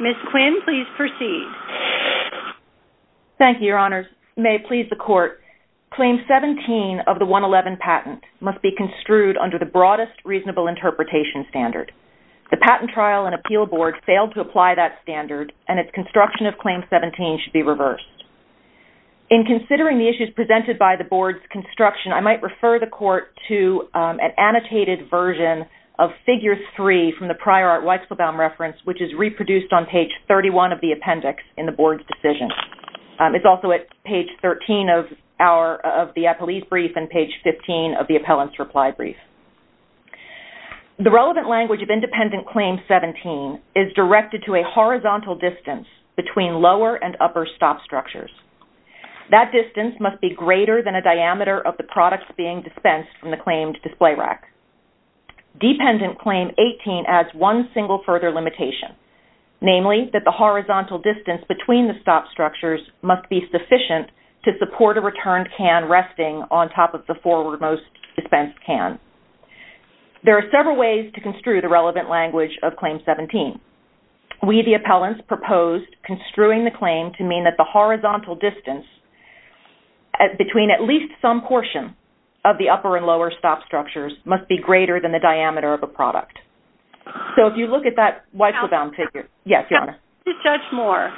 Ms. Quinn, please proceed. Thank you, Your Honors. May it please the Court, Claim 17 of the 111 patent must be construed under the broadest reasonable interpretation standard. The Patent Trial and Appeal Board failed to apply that standard, and its construction of Claim 17 should be reversed. In considering the issues presented by the Board's construction, I might refer the Court to an annotated version of Figure 3 from the prior Art Weizelbaum reference, which is reproduced on page 31 of the appendix in the Board's decision. It's also at page 13 of the appellee's brief and page 15 of the appellant's reply brief. The relevant language of independent Claim 17 is directed to a horizontal distance between lower and upper stop structures. That distance must be greater than a diameter of the products being dispensed from the claimed display rack. Dependent Claim 18 adds one single further limitation, namely that the horizontal distance between the stop structures must be sufficient to support a returned can resting on top of the forward-most dispensed can. There are several ways to construe the relevant language of Claim 17. We, the appellants, proposed construing the claim to mean that the horizontal distance between at least some portion of the upper and lower stop structures must be greater than the diameter of a product. So if you look at that Weizelbaum figure... Yes, Your Honor. To judge more,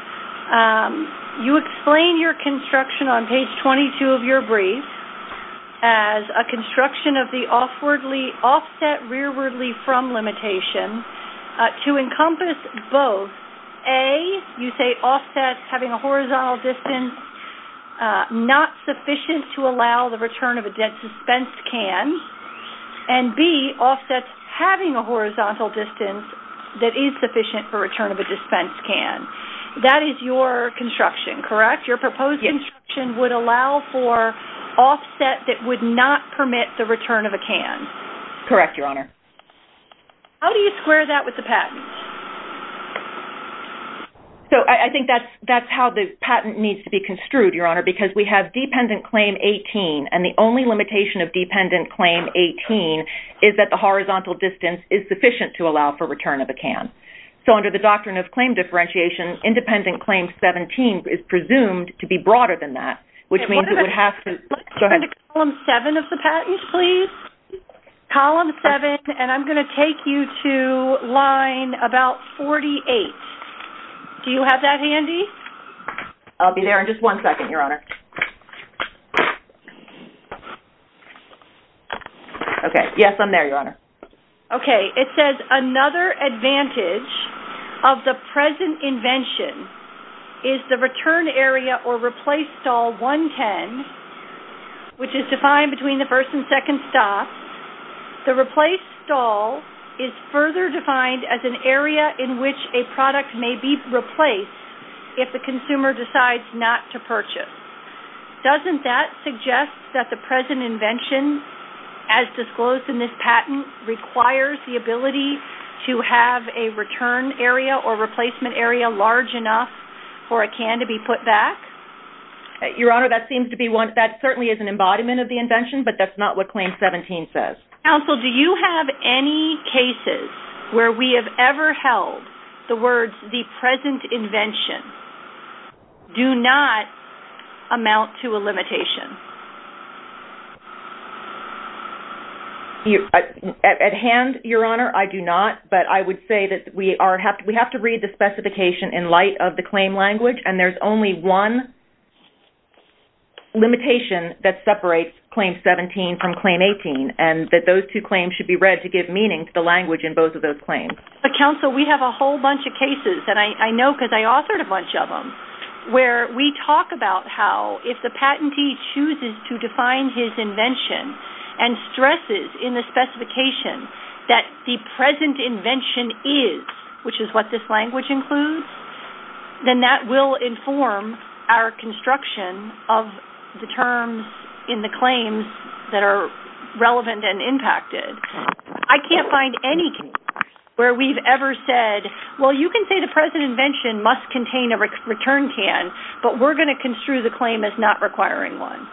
you explain your construction on page 22 of your brief as a construction of the offset rearwardly from limitation to encompass both, A, you say offset having a horizontal distance not sufficient to allow the return of a dispensed can, and B, offset having a horizontal distance that is sufficient for return of a dispensed can. That is your construction, correct? Your proposed construction would allow for offset that would not permit the return of a can. Correct, Your Honor. How do you square that with the patent? So I think that's how the patent needs to be construed, Your Honor, because we have Dependent Claim 18, and the only limitation of Dependent Claim 18 is that the horizontal distance is sufficient to allow for return of a can. So under the Doctrine of Claim Differentiation, Independent Claim 17 is presumed to be broader than that, which means it would have to... Go ahead. Let's turn to Column 7 of the patent, please. Column 7, and I'm going to take you to line about 48. Do you have that handy? I'll be there in just one second, Your Honor. Okay. Yes, I'm there, Your Honor. Okay. It says another advantage of the present invention is the return area or replace stall 110, which is defined between the first and second stops. The replace stall is further defined as an area in which a product may be replaced if the consumer decides not to purchase. Doesn't that suggest that the present invention, as disclosed in this patent, requires the ability to have a return area or replacement area large enough for a can to be put back? Your Honor, that seems to be one... That certainly is an embodiment of the invention, but that's not what Claim 17 says. Counsel, do you have any cases where we have ever held the words, the present invention do not amount to a limitation? At hand, Your Honor, I do not, but I would say that we have to read the specification in light of the claim language, and there's only one limitation that separates Claim 17 from Claim 18, and that those two claims should be read to give meaning to the language in both of those claims. But, Counsel, we have a whole bunch of cases, and I know because I authored a bunch of them, where we talk about how if the patentee chooses to define his invention and stresses in the specification that the present invention is, which is what this language includes, then that will inform our construction of the terms in the claims that are relevant and impacted. I can't find any case where we've ever said, well, you can say the present invention must contain a return can, but we're going to construe the claim as not requiring one.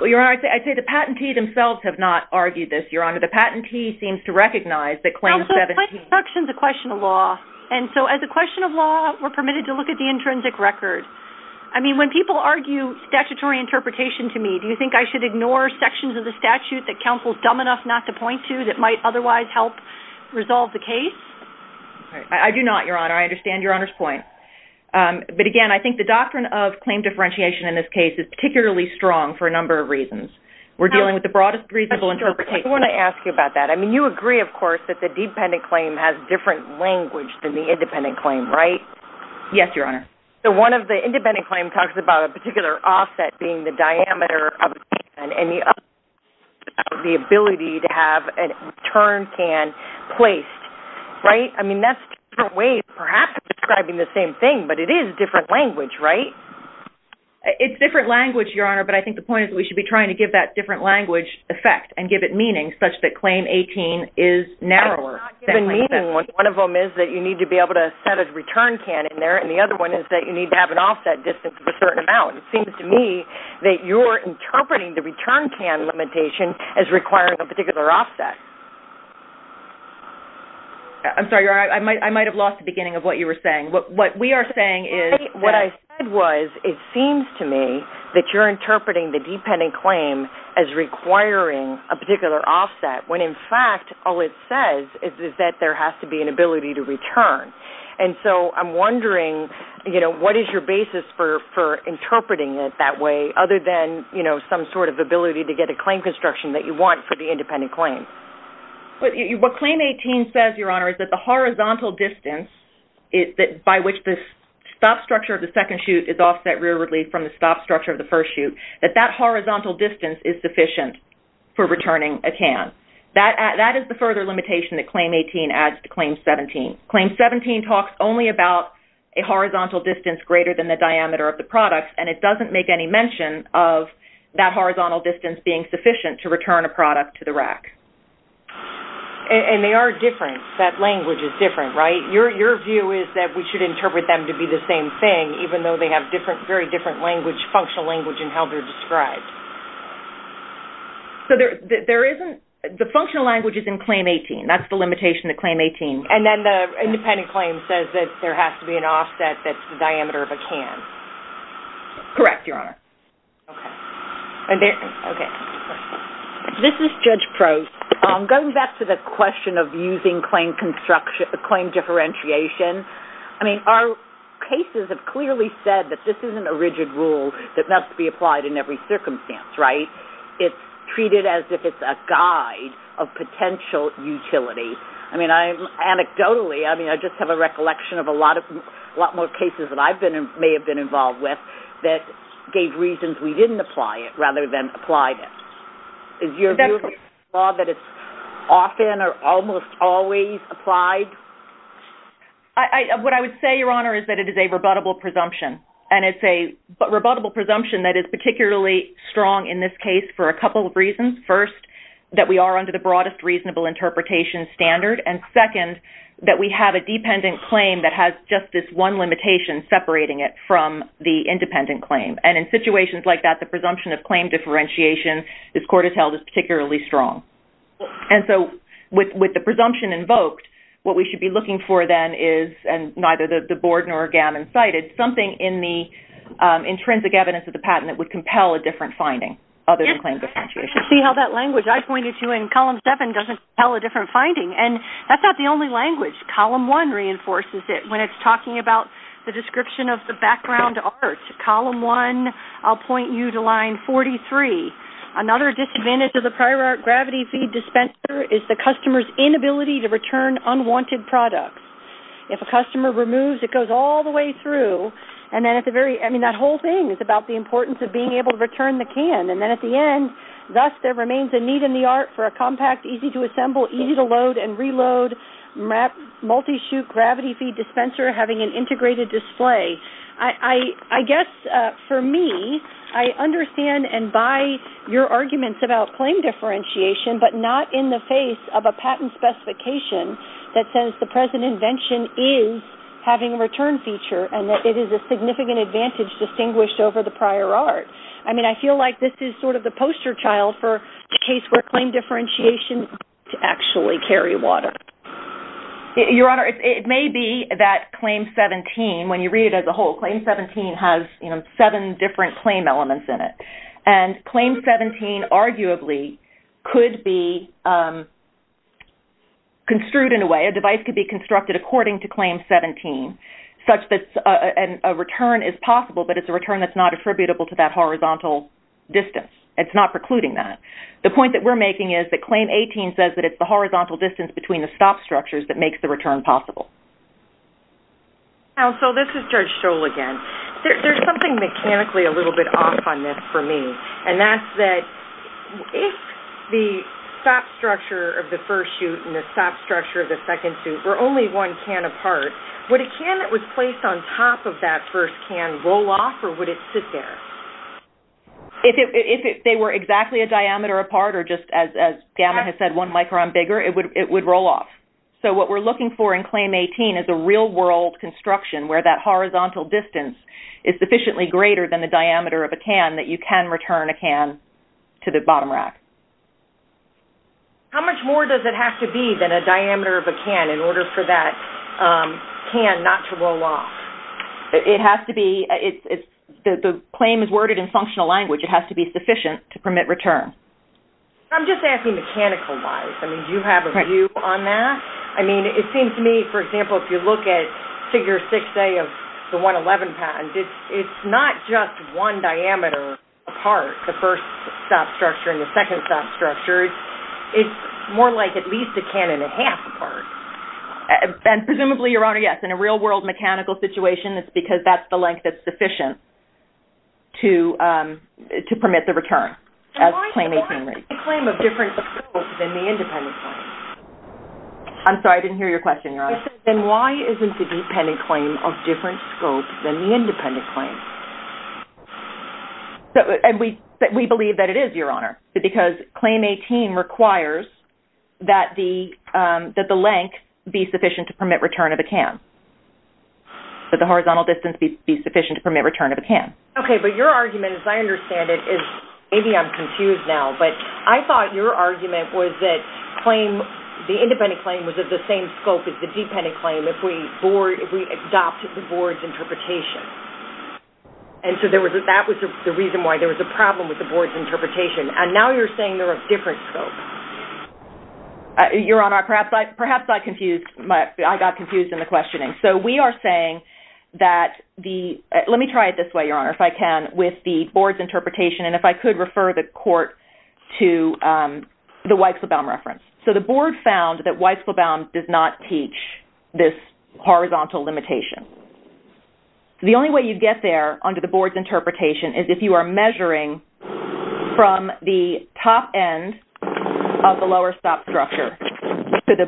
Well, Your Honor, I say the patentee themselves have not argued this, Your Honor. The patentee seems to recognize that Claim 17... Counsel, construction is a question of law, and so as a question of law, we're permitted to look at the intrinsic record. I mean, when people argue statutory interpretation to me, do you think I should ignore sections of the statute that Counsel's dumb enough not to point to that might otherwise help resolve the case? I do not, Your Honor. I understand Your Honor's point, but again, I think the doctrine of claim differentiation in this case is particularly strong for a number of reasons. We're dealing with the broadest reasonable interpretation. Counsel, I just want to ask you about that. I mean, you agree, of course, that the dependent claim has different language than the independent claim, right? Yes, Your Honor. So one of the independent claims talks about a particular offset being the diameter of the return can placed, right? I mean, that's two different ways of perhaps describing the same thing, but it is different language, right? It's different language, Your Honor, but I think the point is that we should be trying to give that different language effect and give it meaning such that Claim 18 is narrower. One of them is that you need to be able to set a return can in there, and the other one is that you need to have an offset distance of a certain amount. It seems to me that you're interpreting the return can limitation as requiring a particular offset. I'm sorry, Your Honor. I might have lost the beginning of what you were saying. What we are saying is that... What I said was it seems to me that you're interpreting the dependent claim as requiring a particular offset when, in fact, all it says is that there has to be an ability to return. And so I'm wondering, you know, what is your basis for interpreting it that way other than, you know, some sort of ability to get a claim construction that you want for the independent claim? What Claim 18 says, Your Honor, is that the horizontal distance by which the stop structure of the second chute is offset rearwardly from the stop structure of the first chute, that that horizontal distance is sufficient for returning a can. That is the further limitation that Claim 18 adds to Claim 17. Claim 17 talks only about a horizontal distance greater than the diameter of the product, and it doesn't make any mention of that horizontal distance being sufficient to return a product to the rack. And they are different. That language is different, right? Your view is that we should interpret them to be the same thing, even though they have different, very different language, functional language in how they're described. So there isn't... The functional language is in Claim 18. That's the limitation of Claim 18. And then the independent claim says that there has to be an offset that's the diameter of a can. Correct, Your Honor. Okay. And there... Okay. This is Judge Prost. Going back to the question of using claim construction... Claim differentiation, I mean, our cases have clearly said that this isn't a rigid rule that must be applied in every circumstance, right? It's treated as if it's a guide of potential utility. I mean, I... Anecdotally, I mean, I just have a recollection of a lot of... may have been involved with that gave reasons we didn't apply it rather than applied it. Is your view that it's often or almost always applied? I... What I would say, Your Honor, is that it is a rebuttable presumption. And it's a rebuttable presumption that is particularly strong in this case for a couple of reasons. First, that we are under the broadest reasonable interpretation standard. And second, that we have a dependent claim that has just this one limitation separating it from the independent claim. And in situations like that, the presumption of claim differentiation, this court has held, is particularly strong. And so, with the presumption invoked, what we should be looking for then is, and neither the board nor GAM incited, something in the intrinsic evidence of the patent that would compel a different finding other than claim differentiation. You should see how that language I pointed to in column seven doesn't compel a different finding. And that's not the only language. Column one reinforces it when it's talking about the description of the background art. Column one, I'll point you to line 43. Another disadvantage of the prior art gravity feed dispenser is the customer's inability to return unwanted products. If a customer removes, it goes all the way through. And then at the very... I mean, that whole thing is about the importance of being able to return the can. And then at the end, thus there remains a need in the art for a compact, easy to assemble, easy to load and reload, multi-chute gravity feed dispenser having an integrated display. I guess, for me, I understand and buy your arguments about claim differentiation, but not in the face of a patent specification that says the present invention is having a return feature and that it is a significant advantage distinguished over the prior art. I mean, I feel like this is sort of the poster child for the case where claim differentiation could actually carry water. Your Honor, it may be that claim 17, when you read it as a whole, claim 17 has seven different claim elements in it. And claim 17 arguably could be construed in a way, a device could be constructed according to claim 17 such that a return is possible, but it's a return that's not attributable to that horizontal distance. It's not precluding that. The point that we're making is that claim 18 says that it's the horizontal distance between the stop structures that makes the return possible. Counsel, this is Judge Scholl again. There's something mechanically a little bit off on this for me. And that's that if the stop structure of the first chute and the stop structure of the second chute were only one can apart, would a can that was placed on top of that first can roll off or would it sit there? If they were exactly a diameter apart or just, as Gamma has said, one micron bigger, it would roll off. So what we're looking for in claim 18 is a real-world construction where that horizontal distance is sufficiently greater than the diameter of a can that you can return a can to the bottom rack. How much more does it have to be than a diameter of a can in order for that can not to roll off? The claim is worded in functional language. It has to be sufficient to permit return. I'm just asking mechanical-wise. Do you have a view on that? It seems to me, for example, if you look at figure 6A of the 111 patent, it's not just one diameter apart, the first stop structure and the second stop structure. It's more like at least a can and a half apart. And presumably, Your Honor, yes. In a real-world mechanical situation, it's because that's the length that's sufficient to permit the return as claim 18 reads. Why isn't the claim of different scopes than the independent claim? I'm sorry. I didn't hear your question, Your Honor. Then why isn't the dependent claim of different scopes than the independent claim? We believe that it is, Your Honor, because claim 18 requires that the length be sufficient to permit return of a can, that the horizontal distance be sufficient to permit return of a can. Okay, but your argument, as I understand it, is maybe I'm confused now, but I thought your argument was that the independent claim was of the same scope as the dependent claim if we adopted the board's interpretation. And so that was the reason why there was a problem with the board's interpretation. And now you're saying they're of different scopes. Your Honor, perhaps I confused, I got confused in the questioning. So we are saying that the, let me try it this way, Your Honor, if I can, with the board's interpretation, and if I could refer the court to the Weisselbaum reference. So the board found that Weisselbaum does not teach this horizontal limitation. So the only way you get there under the board's interpretation is if you are measuring from the top end of the lower stop structure to the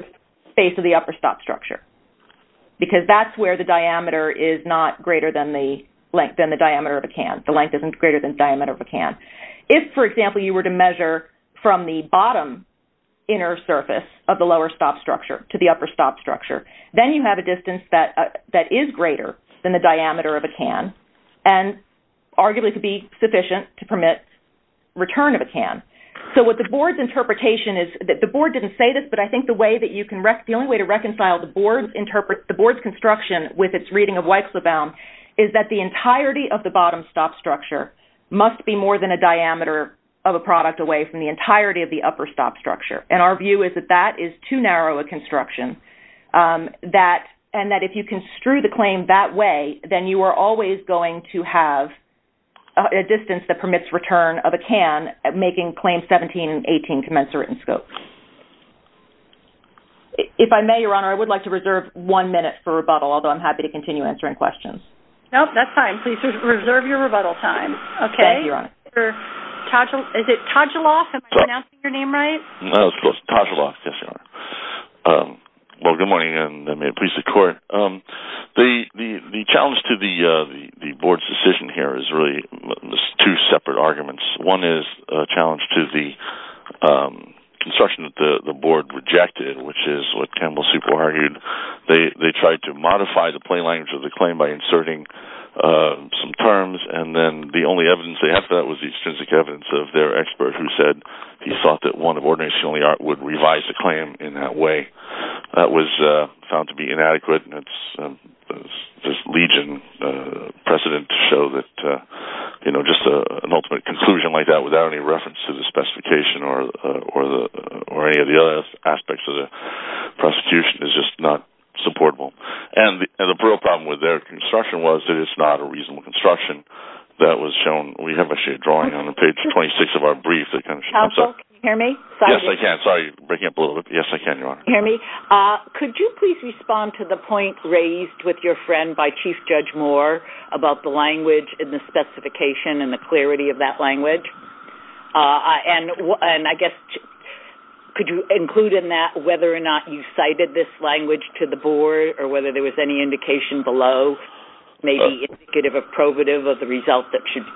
base of the upper stop structure, because that's where the diameter is not greater than the length, than the diameter of a can. The length isn't greater than the diameter of a can. If, for example, you were to measure from the bottom inner surface of the lower stop structure to the upper stop structure, then you have a distance that is greater than the So what the board's interpretation is, the board didn't say this, but I think the way that you can, the only way to reconcile the board's construction with its reading of Weisselbaum is that the entirety of the bottom stop structure must be more than a diameter of a product away from the entirety of the upper stop structure. And our view is that that is too narrow a construction, and that if you construe the claim that way, then you are always going to have a distance that permits return of a can making claims 17 and 18 commensurate in scope. If I may, Your Honor, I would like to reserve one minute for rebuttal, although I'm happy to continue answering questions. No, that's fine. Please reserve your rebuttal time. Okay. Thank you, Your Honor. Is it Todgeloff? Am I pronouncing your name right? No, it's Todgeloff. Yes, Your Honor. Well, good morning, and may it please the Court. The challenge to the board's decision here is really two separate arguments. One is a challenge to the construction that the board rejected, which is what Campbell superargued. They tried to modify the plain language of the claim by inserting some terms, and then the only evidence they had for that was the extrinsic evidence of their expert, who said he thought that one of ordinationally art would revise the claim in that way. That was found to be inadequate. This Legion precedent to show that just an ultimate conclusion like that without any reference to the specification or any of the other aspects of the prosecution is just not supportable. And the real problem with their construction was that it's not a reasonable construction that was shown. We have a sheet drawing on page 26 of our brief. Counsel, can you hear me? Sorry. Yes, I can. Sorry, breaking up a little bit. Yes, I can, Your Honor. Can you hear me? Could you please respond to the point raised with your friend by Chief Judge Moore about the language and the specification and the clarity of that language? And I guess, could you include in that whether or not you cited this language to the board or whether there was any indication below, maybe indicative or probative of the result that should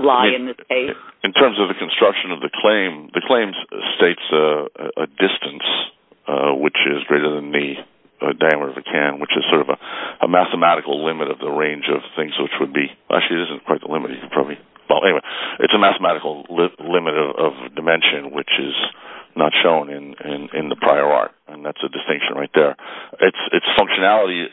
lie in this case? In terms of the construction of the claim, the claim states a distance, which is greater than the diameter of a can, which is sort of a mathematical limit of the range of things which would be... Actually, it isn't quite the limit. You can probably... Well, anyway, it's a mathematical limit of dimension, which is not shown in the prior art. And that's a distinction right there. Its functionality,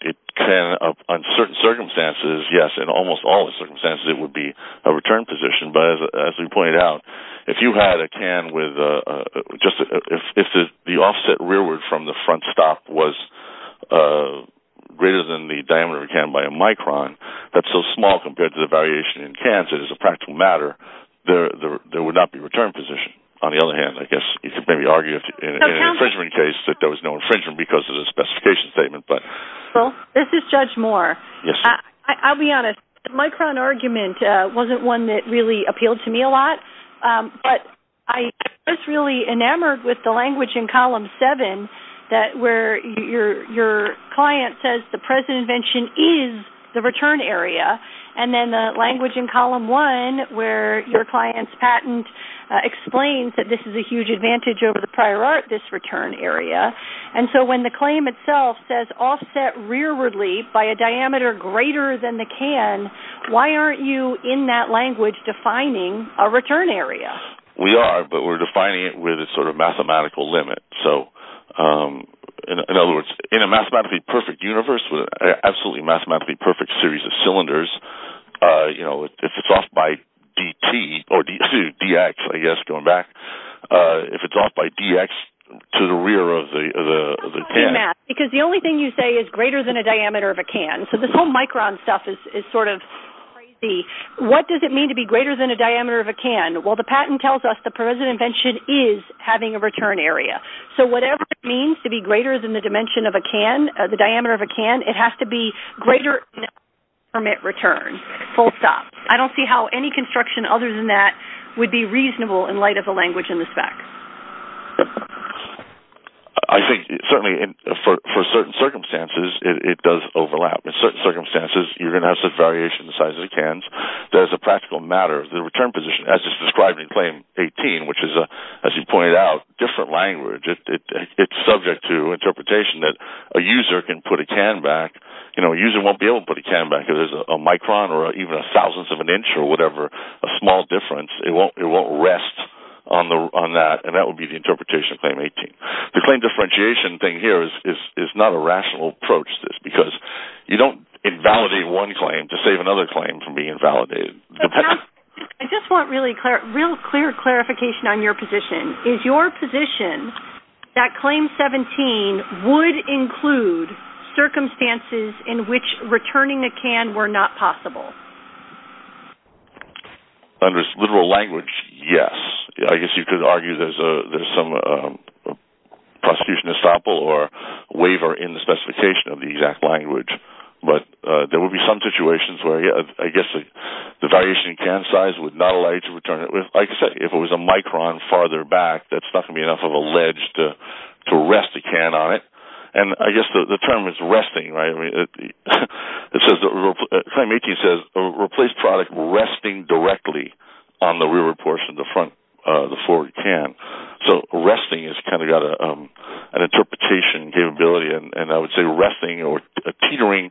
it can, under certain circumstances, yes, in almost all circumstances, it would be a return position. But as we pointed out, if you had a can with just... If the offset rearward from the front stop was greater than the diameter of a can by a micron, that's so small compared to the variation in cans, it is a practical matter, there would not be a return position. On the other hand, I guess you could maybe argue in an infringement case that there was no infringement because of the specification statement, but... Well, this is Judge Moore. Yes. I'll be honest. The micron argument wasn't one that really appealed to me a lot, but I was really enamored with the language in column seven that where your client says the present invention is the return area, and then the language in column one where your client's patent explains that this is a huge advantage over the prior art, this return area. And so when the claim itself says offset rearwardly by a diameter greater than the can, why aren't you, in that language, defining a return area? We are, but we're defining it with a sort of mathematical limit. So, in other words, in a mathematically perfect universe with an absolutely mathematically perfect series of cylinders, if it's off by DT or DX, I guess, going back, if it's off by DX to the rear of the can... Because the only thing you say is greater than a diameter of a can. So this whole micron stuff is sort of crazy. What does it mean to be greater than a diameter of a can? Well, the patent tells us the present invention is having a return area. So whatever it means to be greater than the dimension of a can, the diameter of a can, it has to be greater than a permit return, full stop. I don't see how any construction other than that would be reasonable in light of the language in this fact. I think, certainly, for certain circumstances, it does overlap. In certain circumstances, you're going to have some variation in the size of the cans. There's a practical matter. The return position, as it's described in Claim 18, which is, as you pointed out, different language. It's subject to interpretation that a user can put a can back. A user won't be able to put a can back if there's a micron or even a thousandth of an inch or whatever, a small difference. It won't rest on that, and that would be the interpretation of Claim 18. The claim differentiation thing here is not a rational approach to this because you don't invalidate one claim to save another claim from being invalidated. I just want real clear clarification on your position. Is your position that Claim 17 would include circumstances in which returning a can were not possible? Under literal language, yes. I guess you could argue there's some prosecution estoppel or waiver in the specification of the exact language. But there would be some situations where, I guess, the variation in can size would not allow you to return it. Like I said, if it was a micron farther back, that's not going to be enough of a ledge to rest a can on it. I guess the term is resting. Claim 18 says replace product resting directly on the rear portion of the front of the forward can. So resting has kind of got an interpretation capability. And I would say resting or teetering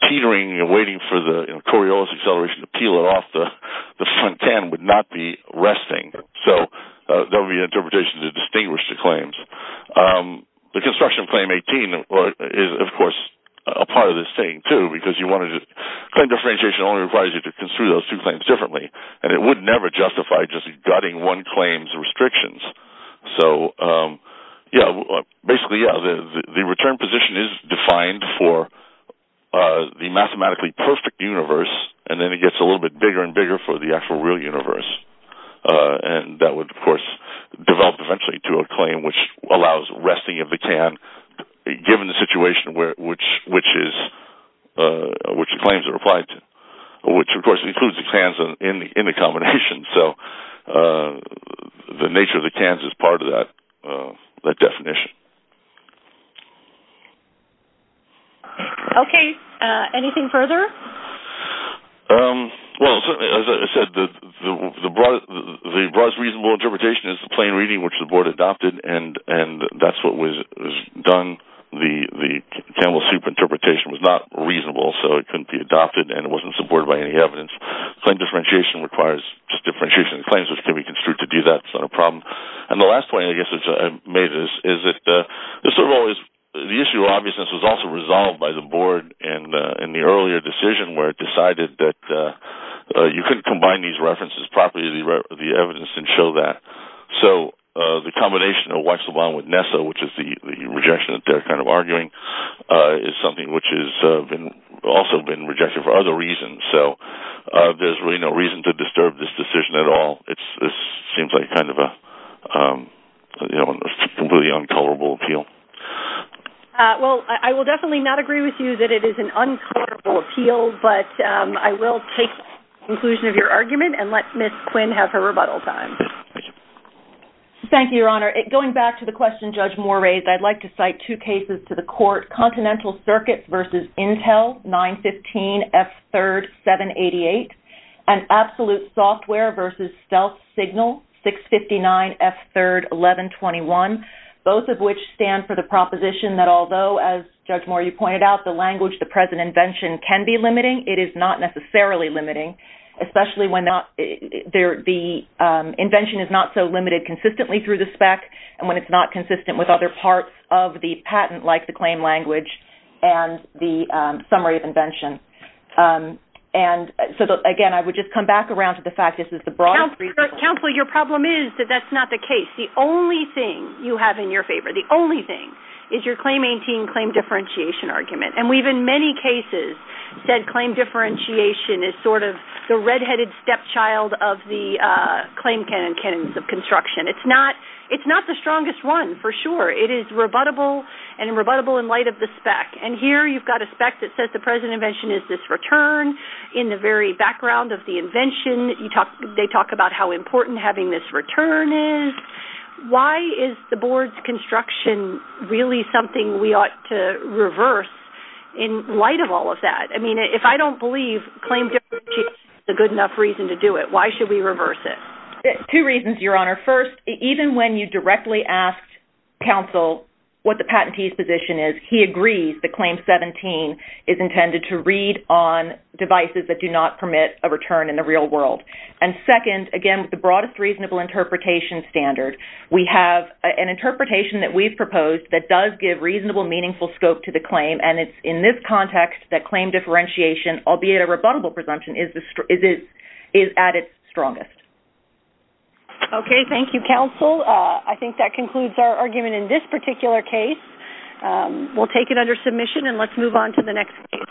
and waiting for the Coriolis acceleration to peel it off the front can would not be resting. So there would be an interpretation to distinguish the claims. The construction of Claim 18 is, of course, a part of this thing, too, because claim differentiation only requires you to construe those two claims differently. And it would never justify just gutting one claim's restrictions. Basically, the return position is defined for the mathematically perfect universe, and then it gets a little bit bigger and bigger for the actual real universe. And that would, of course, develop eventually to a claim which allows resting of the can given the situation which the claims are applied to, which, of course, includes the cans in the combination. So the nature of the cans is part of that definition. Okay. Anything further? Well, certainly, as I said, the broadest reasonable interpretation is the plain reading which the board adopted, and that's what was done. The camel soup interpretation was not reasonable, so it couldn't be adopted, and it wasn't supported by any evidence. Claim differentiation requires just differentiation of the claims, which can be construed to do that sort of problem. And the last point I guess I made is that the issue of obviousness was also resolved by the board in the earlier decision where it decided that you could combine these references properly with the evidence and show that. So the combination of what's wrong with Nessa, which is the rejection that they're kind of arguing, is something which has also been rejected for other reasons. So there's really no reason to disturb this decision at all. It seems like kind of a completely uncolorable appeal. Well, I will definitely not agree with you that it is an uncolorable appeal, but I will take the conclusion of your argument and let Ms. Quinn have her rebuttal time. Thank you, Your Honor. Going back to the question Judge Moore raised, I'd like to cite two cases to the court, Continental Circuits v. Intel 915F3-788 and Absolute Software v. Stealth Signal 659F3-1121, both of which stand for the proposition that although, as Judge Moore, you pointed out, the language of the present invention can be limiting, it is not necessarily limiting, especially when the invention is not so limited consistently through the spec and when it's not consistent with other parts of the patent, like the claim language and the summary of invention. And so, again, I would just come back around to the fact that this is the broader... Counselor, your problem is that that's not the case. The only thing you have in your favor, the only thing, is your claim-maintaining, claim-differentiation argument. And we've, in many cases, said claim differentiation is sort of the red-headed stepchild of the claim canons of construction. It's not the strongest one, for sure. It is rebuttable and rebuttable in light of the spec. And here, you've got a spec that says the present invention is this return. In the very background of the invention, they talk about how important having this return is. Why is the board's construction really something we ought to reverse in light of all of that? I mean, if I don't believe claim differentiation is a good enough reason to do it, why should we reverse it? Two reasons, Your Honor. First, even when you directly asked counsel what the patentee's position is, he agrees that Claim 17 is intended to read on devices that do not permit a return in the real world. And second, again, with the broadest reasonable interpretation standard, we have an interpretation that we've proposed that does give reasonable, meaningful scope to the claim, and it's in this context that claim differentiation, albeit a rebuttable presumption, is at its strongest. Okay, thank you, counsel. I think that concludes our argument in this particular case. We'll take it under submission, and let's move on to the next case.